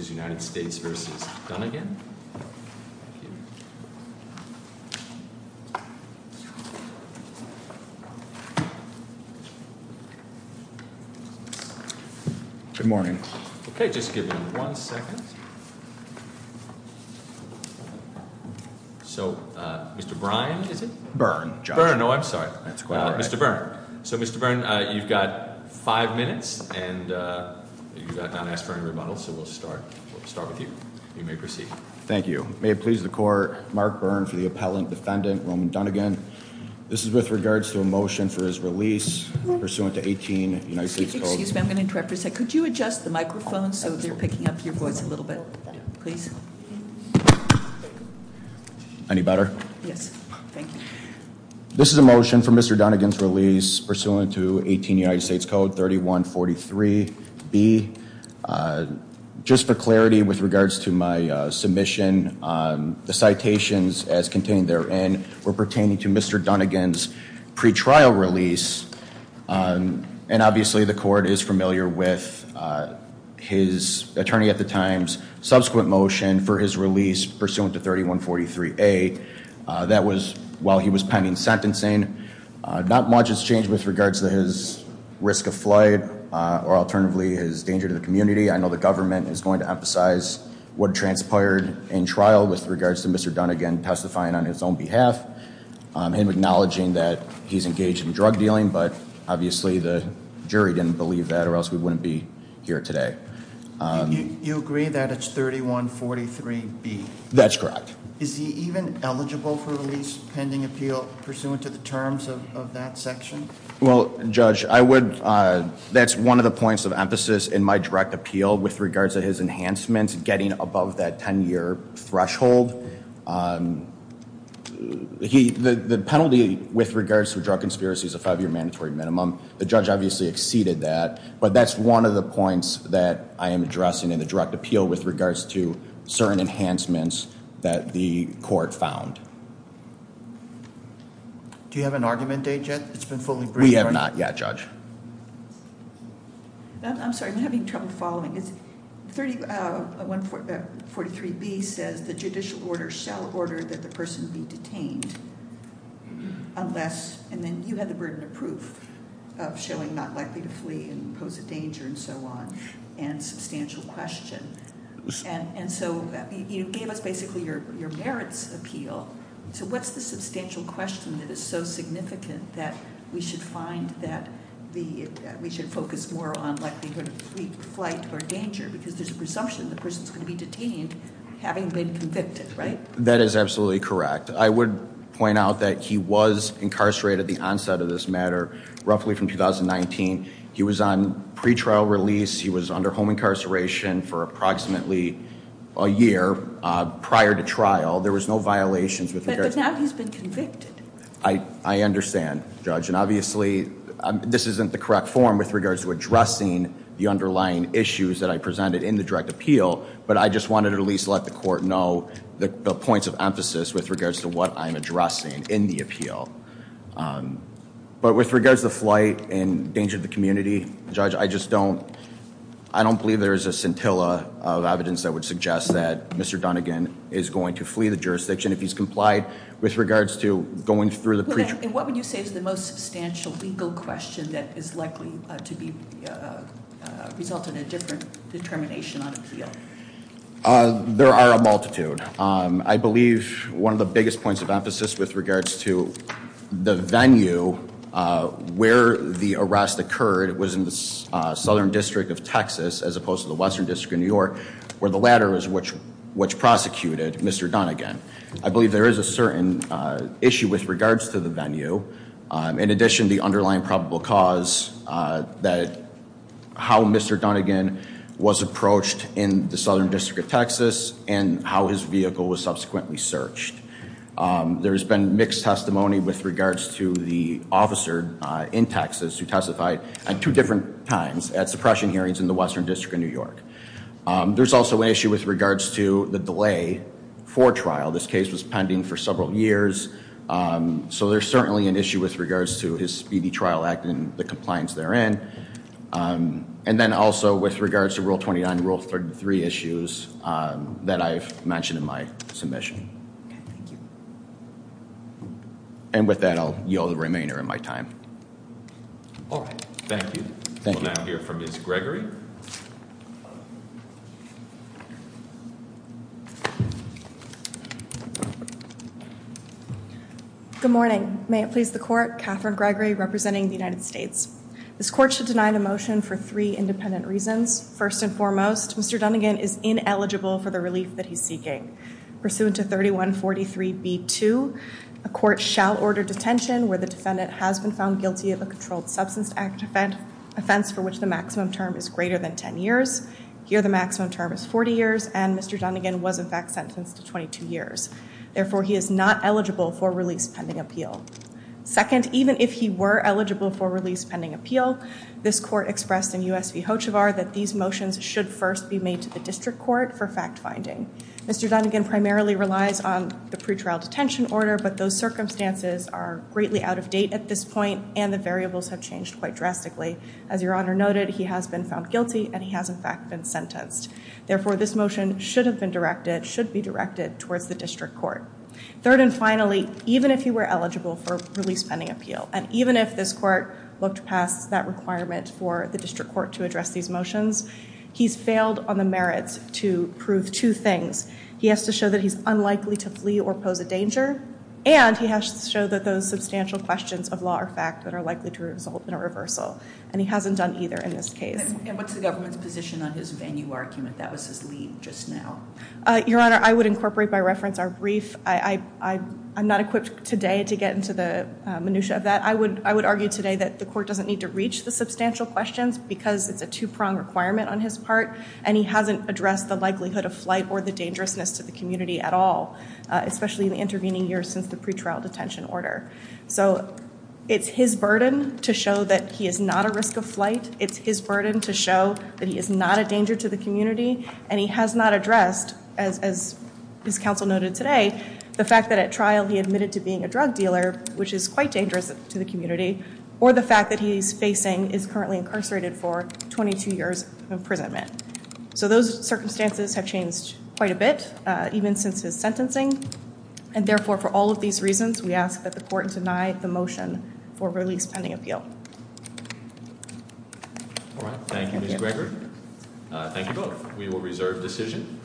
Good morning. Okay, just give me one second. So, Mr. Byrne, is it? Byrne, Josh. Byrne, oh, I'm sorry. That's quite all right. Mr. Byrne. So, Mr. Byrne, you've got five minutes, and you've got Don S. Byrne to rebuttal, so we'll start. We'll start with you. You may proceed. Thank you. May it please the court, Mark Byrne for the appellant defendant, Roman Dunnigan. This is with regards to a motion for his release pursuant to 18 United States Code. Excuse me, I'm going to interrupt for a second. Could you adjust the microphone so they're picking up your voice a little bit, please? Any better? Yes. Thank you. This is a motion for Mr. Dunnigan's release pursuant to 18 United States Code 3143B. Just for clarity with regards to my submission, the citations as contained therein were pertaining to Mr. Dunnigan's pretrial release, and obviously the court is familiar with his attorney at the time's subsequent motion for his release pursuant to 3143A. That was while he was pending sentencing. Not much has changed with regards to his risk of flight, or alternatively his danger to the community. I know the government is going to emphasize what transpired in trial with regards to Mr. Dunnigan testifying on his own behalf. Him acknowledging that he's engaged in drug dealing, but obviously the jury didn't believe that or else we wouldn't be here today. You agree that it's 3143B? That's correct. Is he even eligible for release pending appeal pursuant to the terms of that section? Well, Judge, that's one of the points of emphasis in my direct appeal with regards to his enhancements getting above that ten year threshold. The penalty with regards to drug conspiracies is a five year mandatory minimum. The judge obviously exceeded that. But that's one of the points that I am addressing in the direct appeal with regards to certain enhancements that the court found. Do you have an argument date yet? It's been fully briefed. We have not yet, Judge. I'm sorry, I'm having trouble following. 3143B says the judicial order shall order that the person be detained unless, and then you had the burden of proof of showing not likely to flee and pose a danger and so on and substantial question. And so you gave us basically your merits appeal. So what's the substantial question that is so significant that we should find that we should focus more on likelihood of flight or danger? Because there's a presumption the person's going to be detained having been convicted, right? That is absolutely correct. I would point out that he was incarcerated at the onset of this matter, roughly from 2019. He was on pretrial release. He was under home incarceration for approximately a year prior to trial. There was no violations with regards- But now he's been convicted. I understand, Judge. And obviously, this isn't the correct form with regards to addressing the underlying issues that I presented in the direct appeal. But I just wanted to at least let the court know the points of emphasis with regards to what I'm addressing in the appeal. But with regards to flight and danger to the community, Judge, I just don't believe there is a scintilla of evidence that would suggest that Mr. Dunnigan is going to flee the jurisdiction if he's complied with regards to going through the pretrial- There are a multitude. I believe one of the biggest points of emphasis with regards to the venue where the arrest occurred was in the Southern District of Texas as opposed to the Western District of New York, where the latter is which prosecuted Mr. Dunnigan. I believe there is a certain issue with regards to the venue. In addition, the underlying probable cause that how Mr. Dunnigan was approached in the Southern District of Texas and how his vehicle was subsequently searched. There has been mixed testimony with regards to the officer in Texas who testified at two different times at suppression hearings in the Western District of New York. There's also an issue with regards to the delay for trial. This case was pending for several years. So there's certainly an issue with regards to his speedy trial act and the compliance therein. And then also with regards to Rule 29, Rule 33 issues that I've mentioned in my submission. And with that, I'll yield the remainder of my time. All right. Thank you. Thank you. We'll now hear from Ms. Gregory. Good morning. May it please the court. Catherine Gregory representing the United States. This court should deny the motion for three independent reasons. First and foremost, Mr. Dunnigan is ineligible for the relief that he's seeking. Pursuant to 3143b2, a court shall order detention where the defendant has been found guilty of a Controlled Substance Act offense for which the maximum term is greater than 10 years. Here the maximum term is 40 years and Mr. Dunnigan was in fact sentenced to 22 years. Therefore, he is not eligible for release pending appeal. Second, even if he were eligible for release pending appeal, this court expressed in U.S. v. Hochevar that these motions should first be made to the district court for fact finding. Mr. Dunnigan primarily relies on the pretrial detention order, but those circumstances are greatly out of date at this point and the variables have changed quite drastically. As Your Honor noted, he has been found guilty and he has in fact been sentenced. Therefore, this motion should have been directed, should be directed towards the district court. Third and finally, even if he were eligible for release pending appeal and even if this court looked past that requirement for the district court to address these motions, he's failed on the merits to prove two things. He has to show that he's unlikely to flee or pose a danger and he has to show that those substantial questions of law are fact that are likely to result in a reversal. And he hasn't done either in this case. And what's the government's position on his venue argument? That was his lead just now. Your Honor, I would incorporate by reference our brief. I'm not equipped today to get into the minutia of that. I would argue today that the court doesn't need to reach the substantial questions because it's a two-prong requirement on his part and he hasn't addressed the likelihood of flight or the dangerousness to the community at all, especially in the intervening years since the pretrial detention order. So it's his burden to show that he is not a risk of flight. It's his burden to show that he is not a danger to the community and he has not addressed, as his counsel noted today, the fact that at trial he admitted to being a drug dealer, which is quite dangerous to the community, or the fact that he's facing is currently incarcerated for 22 years of imprisonment. So those circumstances have changed quite a bit even since his sentencing and therefore for all of these reasons we ask that the court deny the motion for release pending appeal. All right. Thank you, Ms. Gregory. Thank you both. We will reserve decision.